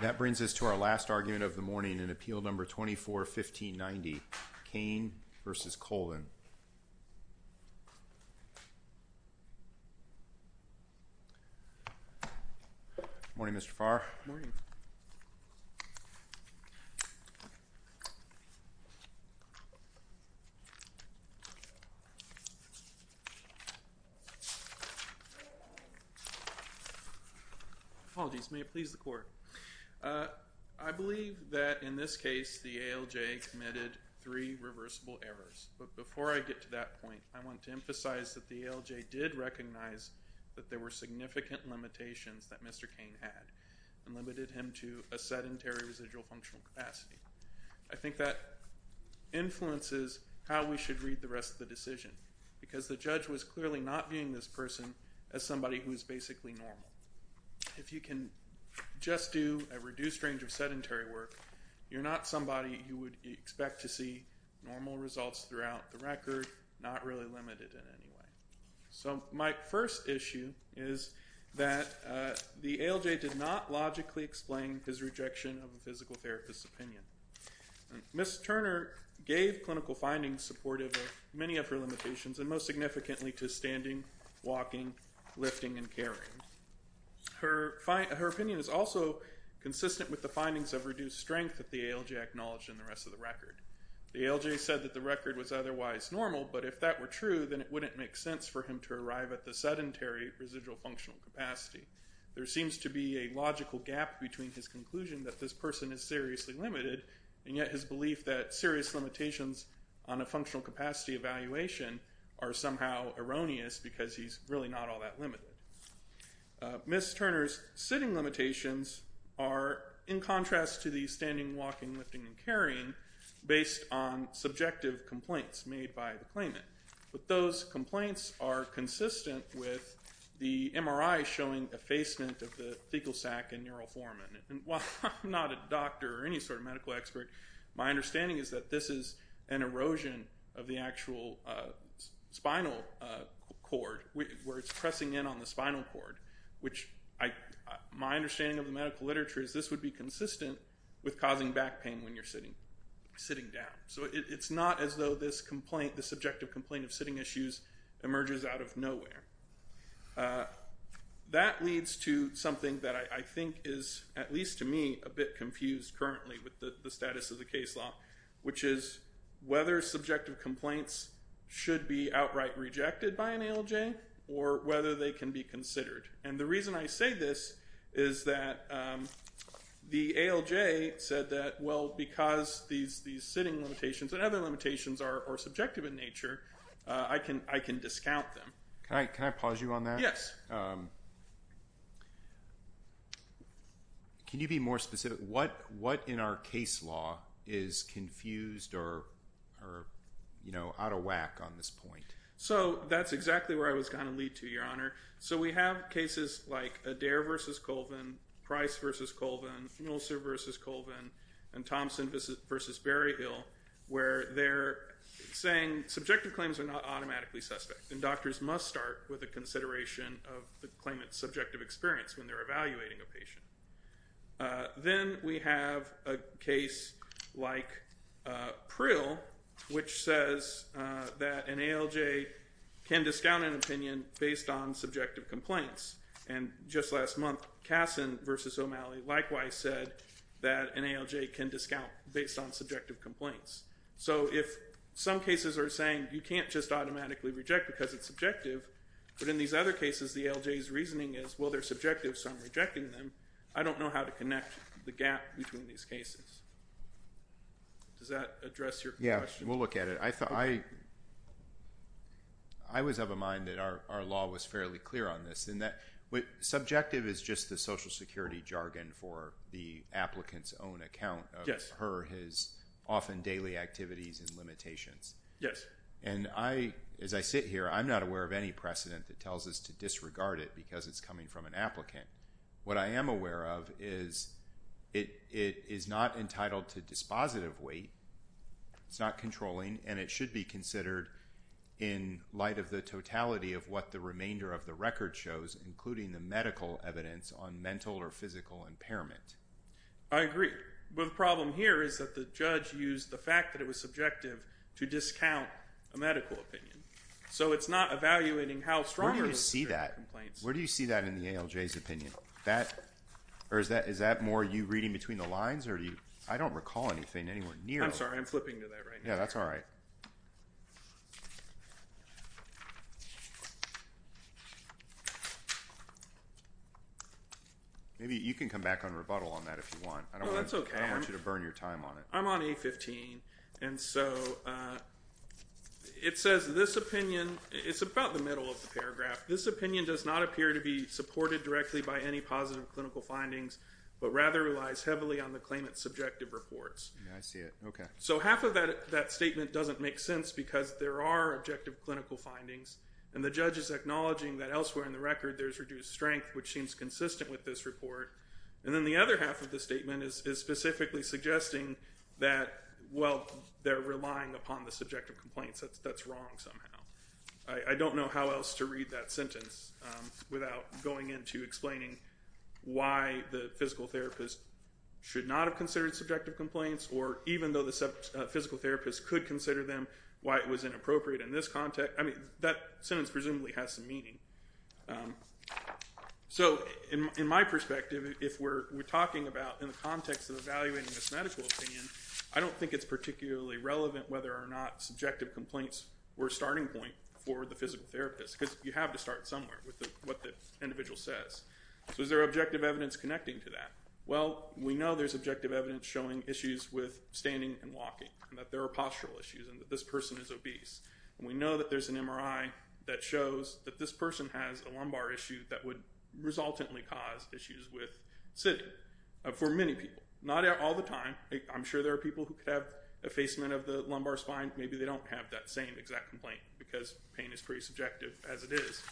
That brings us to our last argument of the morning in Appeal No. 24-1590, Cain v. Colvin. Morning, Mr. Farr. Morning. Apologies. May it please the Court. I believe that in this case the ALJ committed three reversible errors. But before I get to that point, I want to emphasize that the ALJ did recognize that there were significant limitations that Mr. Cain had and limited him to a sedentary residual functional capacity. I think that influences how we should read the rest of the decision because the judge was clearly not viewing this person as somebody who is basically normal. If you can just do a reduced range of sedentary work, you're not somebody who would expect to see normal results throughout the record, not really limited in any way. So my first issue is that the ALJ did not logically explain his rejection of a physical therapist's opinion. Ms. Turner gave clinical findings supportive of many of her limitations and most significantly to standing, walking, lifting, and carrying. Her opinion is also consistent with the findings of reduced strength that the ALJ acknowledged in the rest of the record. The ALJ said that the record was otherwise normal, but if that were true, then it wouldn't make sense for him to arrive at the sedentary residual functional capacity. There seems to be a logical gap between his conclusion that this person is seriously limited and yet his belief that serious limitations on a functional capacity evaluation are somehow erroneous because he's really not all that limited. Ms. Turner's sitting limitations are in contrast to the standing, walking, lifting, and carrying based on subjective complaints made by the claimant. But those complaints are consistent with the MRI showing effacement of the fecal sac and neural formant. And while I'm not a doctor or any sort of medical expert, my understanding is that this is an erosion of the actual spinal cord where it's pressing in on the spinal cord, which my understanding of the medical literature is this would be consistent with causing back pain when you're sitting down. So it's not as though the subjective complaint of sitting issues emerges out of nowhere. That leads to something that I think is, at least to me, a bit confused currently with the status of the case law, which is whether subjective complaints should be outright rejected by an ALJ or whether they can be considered. And the reason I say this is that the ALJ said that, well, because these sitting limitations and other limitations are subjective in nature, I can discount them. Can I pause you on that? Can you be more specific? What in our case law is confused or out of whack on this point? So that's exactly where I was going to lead to, Your Honor. So we have cases like Adair v. Colvin, Price v. Colvin, Mulser v. Colvin, and Thompson v. Berryhill, where they're saying subjective claims are not automatically suspect, and doctors must start with a consideration of the claimant's subjective experience when they're evaluating a patient. Then we have a case like Prill, which says that an ALJ can discount an opinion based on subjective complaints. And just last month, Kasson v. O'Malley likewise said that an ALJ can discount based on subjective complaints. So if some cases are saying you can't just automatically reject because it's subjective, but in these other cases the ALJ's reasoning is, well, they're subjective, so I'm rejecting them, I don't know how to connect the gap between these cases. Does that address your question? Yeah, we'll look at it. I was of a mind that our law was fairly clear on this, in that subjective is just the Social Security jargon for the applicant's own account of her, his, often daily activities and limitations. Yes. And as I sit here, I'm not aware of any precedent that tells us to disregard it because it's coming from an applicant. What I am aware of is it is not entitled to dispositive weight, it's not controlling, and it should be considered in light of the totality of what the remainder of the record shows, including the medical evidence on mental or physical impairment. I agree. But the problem here is that the judge used the fact that it was subjective to discount a medical opinion. So it's not evaluating how strong are those complaints. Where do you see that? Where do you see that in the ALJ's opinion? Is that more you reading between the lines? I don't recall anything anywhere near that. I'm sorry, I'm flipping to that right now. Yeah, that's all right. Maybe you can come back on rebuttal on that if you want. No, that's okay. I don't want you to burn your time on it. I'm on A15. And so it says this opinion, it's about the middle of the paragraph. This opinion does not appear to be supported directly by any positive clinical findings, but rather relies heavily on the claimant's subjective reports. I see it. Okay. So half of that statement doesn't make sense because there are objective clinical findings, and the judge is acknowledging that elsewhere in the record there's reduced strength, which seems consistent with this report. And then the other half of the statement is specifically suggesting that, well, they're relying upon the subjective complaints. That's wrong somehow. I don't know how else to read that sentence without going into explaining why the physical therapist should not have considered subjective complaints, or even though the physical therapist could consider them why it was inappropriate in this context. I mean, that sentence presumably has some meaning. So in my perspective, if we're talking about in the context of evaluating this medical opinion, I don't think it's particularly relevant whether or not subjective complaints were a starting point for the physical therapist, because you have to start somewhere with what the individual says. So is there objective evidence connecting to that? Well, we know there's objective evidence showing issues with standing and walking, and that there are postural issues, and that this person is obese. And we know that there's an MRI that shows that this person has a lumbar issue that would resultantly cause issues with sitting, for many people. Not all the time. I'm sure there are people who could have effacement of the lumbar spine. Maybe they don't have that same exact complaint, because pain is pretty subjective as it is.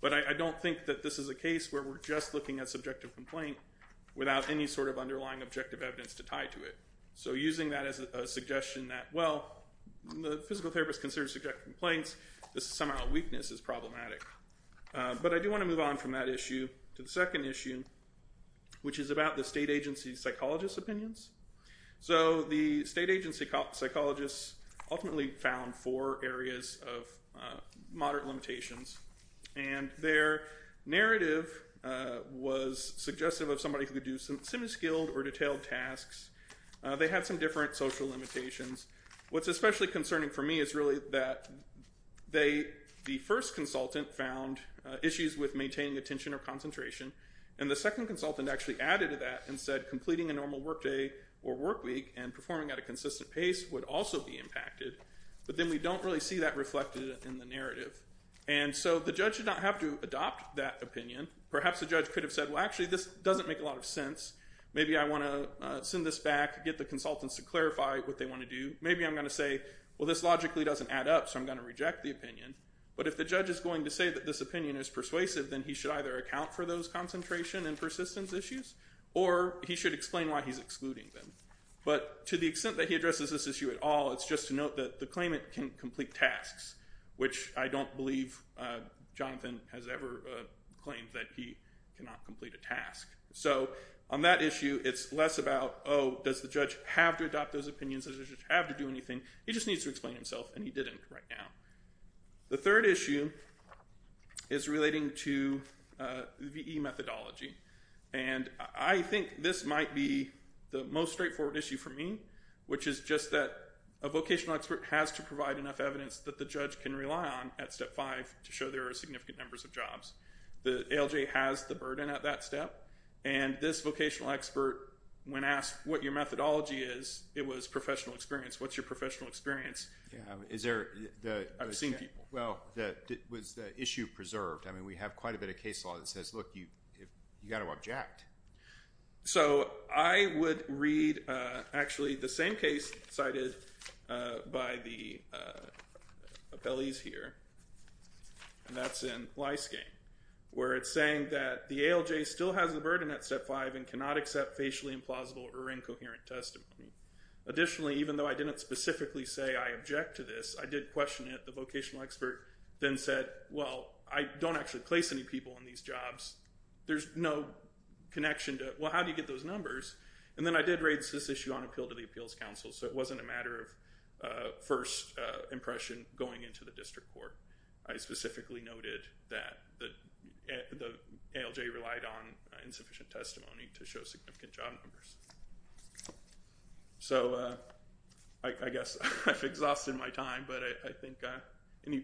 But I don't think that this is a case where we're just looking at subjective complaint without any sort of underlying objective evidence to tie to it. So using that as a suggestion that, well, the physical therapist considers subjective complaints, this is somehow a weakness, is problematic. But I do want to move on from that issue to the second issue, which is about the state agency psychologist's opinions. So the state agency psychologists ultimately found four areas of moderate limitations. And their narrative was suggestive of somebody who could do some semi-skilled or detailed tasks. They had some different social limitations. What's especially concerning for me is really that the first consultant found issues with maintaining attention or concentration, and the second consultant actually added to that and said completing a normal work day or work week and performing at a consistent pace would also be impacted. But then we don't really see that reflected in the narrative. And so the judge did not have to adopt that opinion. Perhaps the judge could have said, well, actually, this doesn't make a lot of sense. Maybe I want to send this back, get the consultants to clarify what they want to do. Maybe I'm going to say, well, this logically doesn't add up, so I'm going to reject the opinion. But if the judge is going to say that this opinion is persuasive, then he should either account for those concentration and persistence issues or he should explain why he's excluding them. But to the extent that he addresses this issue at all, it's just to note that the claimant can complete tasks, which I don't believe Jonathan has ever claimed that he cannot complete a task. So on that issue, it's less about, oh, does the judge have to adopt those opinions? Does the judge have to do anything? He just needs to explain himself, and he didn't right now. The third issue is relating to VE methodology, and I think this might be the most straightforward issue for me, which is just that a vocational expert has to provide enough evidence that the judge can rely on at Step 5 to show there are significant numbers of jobs. The ALJ has the burden at that step, and this vocational expert, when asked what your methodology is, it was professional experience. What's your professional experience? I've seen people. Well, was the issue preserved? I mean, we have quite a bit of case law that says, look, you've got to object. So I would read actually the same case cited by the appellees here, and that's in Lyskane, where it's saying that the ALJ still has the burden at Step 5 and cannot accept facially implausible or incoherent testimony. Additionally, even though I didn't specifically say I object to this, I did question it. The vocational expert then said, well, I don't actually place any people in these jobs. There's no connection to, well, how do you get those numbers? And then I did raise this issue on appeal to the Appeals Council, so it wasn't a matter of first impression going into the district court. I specifically noted that the ALJ relied on insufficient testimony to show significant job numbers. So I guess I've exhausted my time, but I think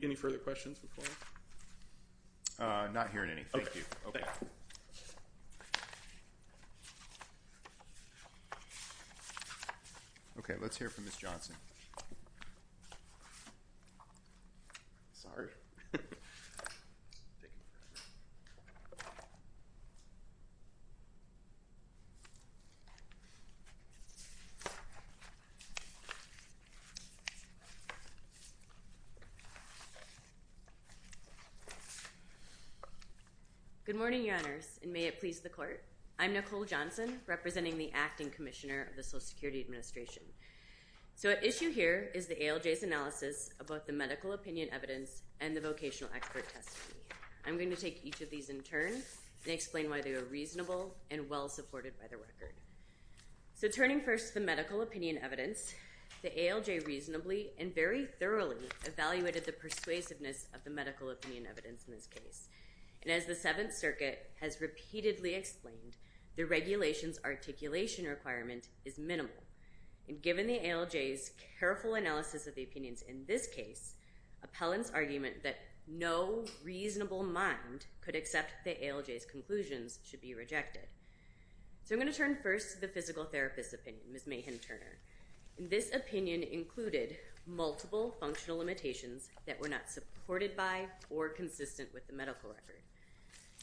any further questions before? Not hearing any. Thank you. OK, let's hear from Ms. Johnson. Good morning, Your Honors, and may it please the Court. I'm Nicole Johnson representing the Acting Commissioner of the Social Security Administration. So at issue here is the ALJ's analysis of both the medical opinion evidence and the vocational expert testimony. I'm going to take each of these in turn and explain why they are reasonable and well supported by the record. So turning first to the medical opinion evidence, the ALJ reasonably and very thoroughly evaluated the persuasiveness of the medical opinion evidence in this case. And as the Seventh Circuit has repeatedly explained, the regulation's articulation requirement is minimal. And given the ALJ's careful analysis of the opinions in this case, appellant's argument that no reasonable mind could accept the ALJ's conclusions should be rejected. So I'm going to turn first to the physical therapist's opinion, Ms. Mahan-Turner. This opinion included multiple functional limitations that were not supported by or consistent with the medical record.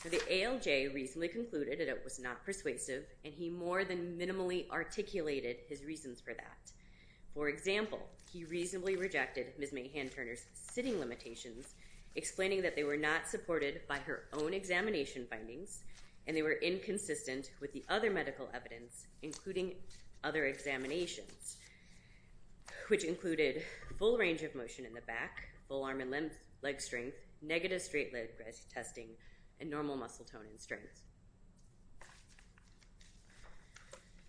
The ALJ reasonably concluded that it was not persuasive, and he more than minimally articulated his reasons for that. For example, he reasonably rejected Ms. Mahan-Turner's sitting limitations, explaining that they were not supported by her own examination findings and they were inconsistent with the other medical evidence, including other examinations, which included full range of motion in the back, full arm and leg strength, negative straight leg breast testing, and normal muscle tone and strength.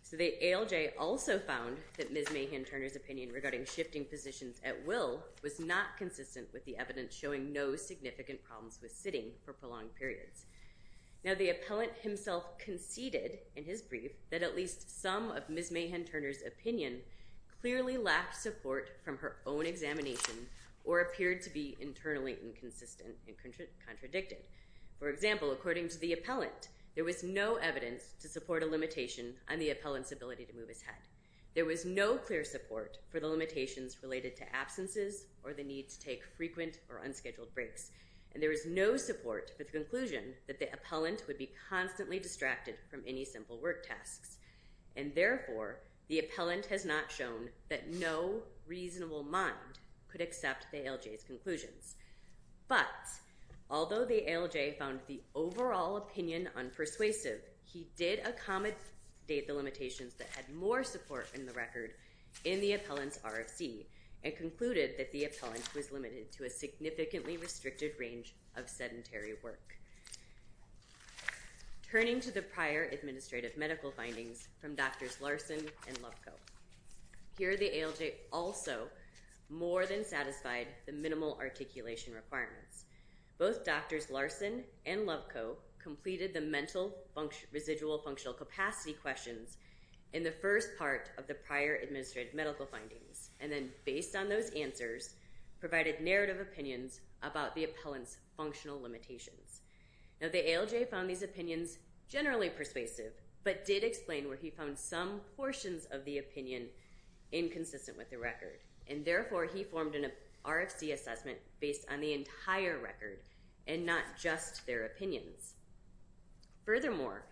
So the ALJ also found that Ms. Mahan-Turner's opinion regarding shifting positions at will was not consistent with the evidence showing no significant problems with sitting for prolonged periods. Now, the appellant himself conceded in his brief that at least some of Ms. Mahan-Turner's opinion clearly lacked support from her own examination or appeared to be internally inconsistent and contradicted. For example, according to the appellant, there was no evidence to support a limitation on the appellant's ability to move his head. There was no clear support for the limitations related to absences or the need to take frequent or unscheduled breaks. And there was no support for the conclusion that the appellant would be constantly distracted from any simple work tasks. And therefore, the appellant has not shown that no reasonable mind could accept the ALJ's conclusions. But although the ALJ found the overall opinion unpersuasive, he did accommodate the limitations that had more support in the record in the appellant's RFC and concluded that the appellant was limited to a significantly restricted range of sedentary work. Turning to the prior administrative medical findings from Drs. Larson and Loveco, here the ALJ also more than satisfied the minimal articulation requirements. Both Drs. Larson and Loveco completed the mental residual functional capacity questions in the first part of the prior administrative medical findings and then, based on those answers, provided narrative opinions about the appellant's functional limitations. Now, the ALJ found these opinions generally persuasive, but did explain where he found some portions of the opinion inconsistent with the record. And therefore, he formed an RFC assessment based on the entire record and not just their opinions. Furthermore,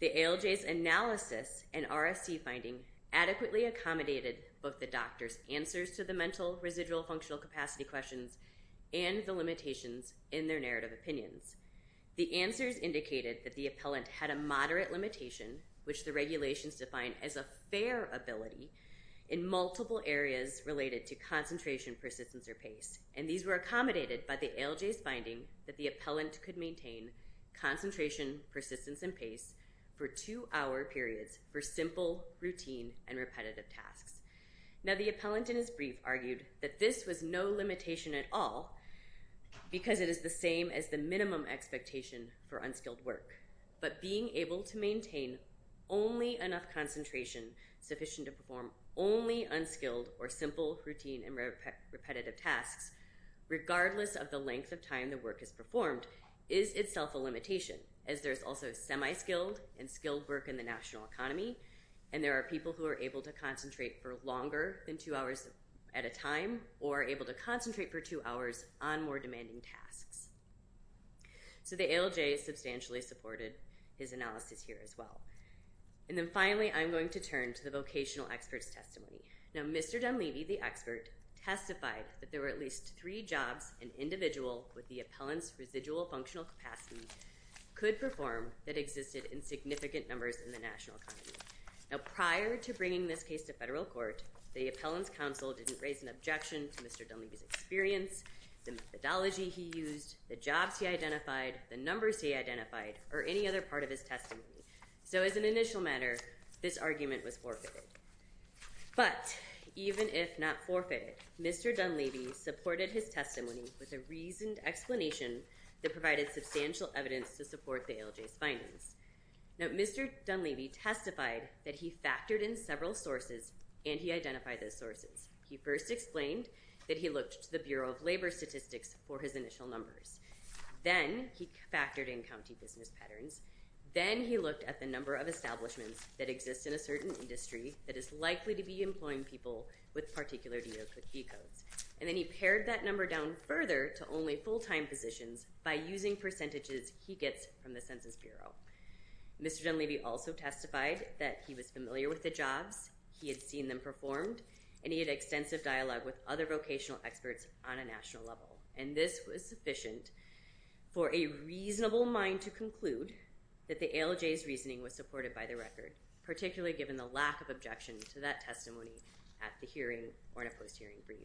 the ALJ's analysis and RFC finding adequately accommodated both the doctors' answers to the mental residual functional capacity questions and the limitations in their narrative opinions. The answers indicated that the appellant had a moderate limitation, which the regulations define as a fair ability, in multiple areas related to concentration, persistence, or pace. And these were accommodated by the ALJ's finding that the appellant could maintain concentration, persistence, and pace for two-hour periods for simple, routine, and repetitive tasks. Now, the appellant, in his brief, argued that this was no limitation at all because it is the same as the minimum expectation for unskilled work. But being able to maintain only enough concentration sufficient to perform only unskilled or simple, routine, and repetitive tasks, regardless of the length of time the work is performed, is itself a limitation, as there's also semi-skilled and skilled work in the national economy, and there are people who are able to concentrate for longer than two hours at a time or are able to concentrate for two hours on more demanding tasks. So the ALJ substantially supported his analysis here as well. And then finally, I'm going to turn to the vocational expert's testimony. Now, Mr. Dunleavy, the expert, testified that there were at least three jobs an individual with the appellant's residual functional capacity could perform that existed in significant numbers in the national economy. Now, prior to bringing this case to federal court, the appellant's counsel didn't raise an objection to Mr. Dunleavy's experience, the methodology he used, the jobs he identified, the numbers he identified, or any other part of his testimony. So as an initial matter, this argument was forfeited. But even if not forfeited, Mr. Dunleavy supported his testimony with a reasoned explanation that provided substantial evidence to support the ALJ's findings. Now, Mr. Dunleavy testified that he factored in several sources and he identified those sources. He first explained that he looked to the Bureau of Labor Statistics for his initial numbers. Then he factored in county business patterns. Then he looked at the number of establishments that exist in a certain industry that is likely to be employing people with particular DOQC codes. And then he pared that number down further to only full-time positions by using percentages he gets from the Census Bureau. Mr. Dunleavy also testified that he was familiar with the jobs, he had seen them performed, and he had extensive dialogue with other vocational experts on a national level. And this was sufficient for a reasonable mind to conclude that the ALJ's reasoning was supported by the record, particularly given the lack of objection to that testimony at the hearing or in a post-hearing brief.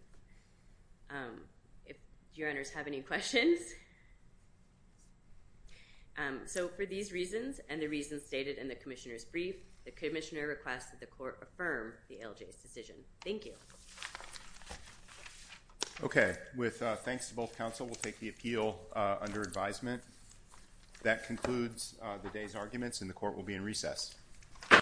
Do your honors have any questions? So for these reasons and the reasons stated in the commissioner's brief, the commissioner requests that the court affirm the ALJ's decision. Thank you. Okay. With thanks to both counsel, we'll take the appeal under advisement. That concludes the day's arguments, and the court will be in recess.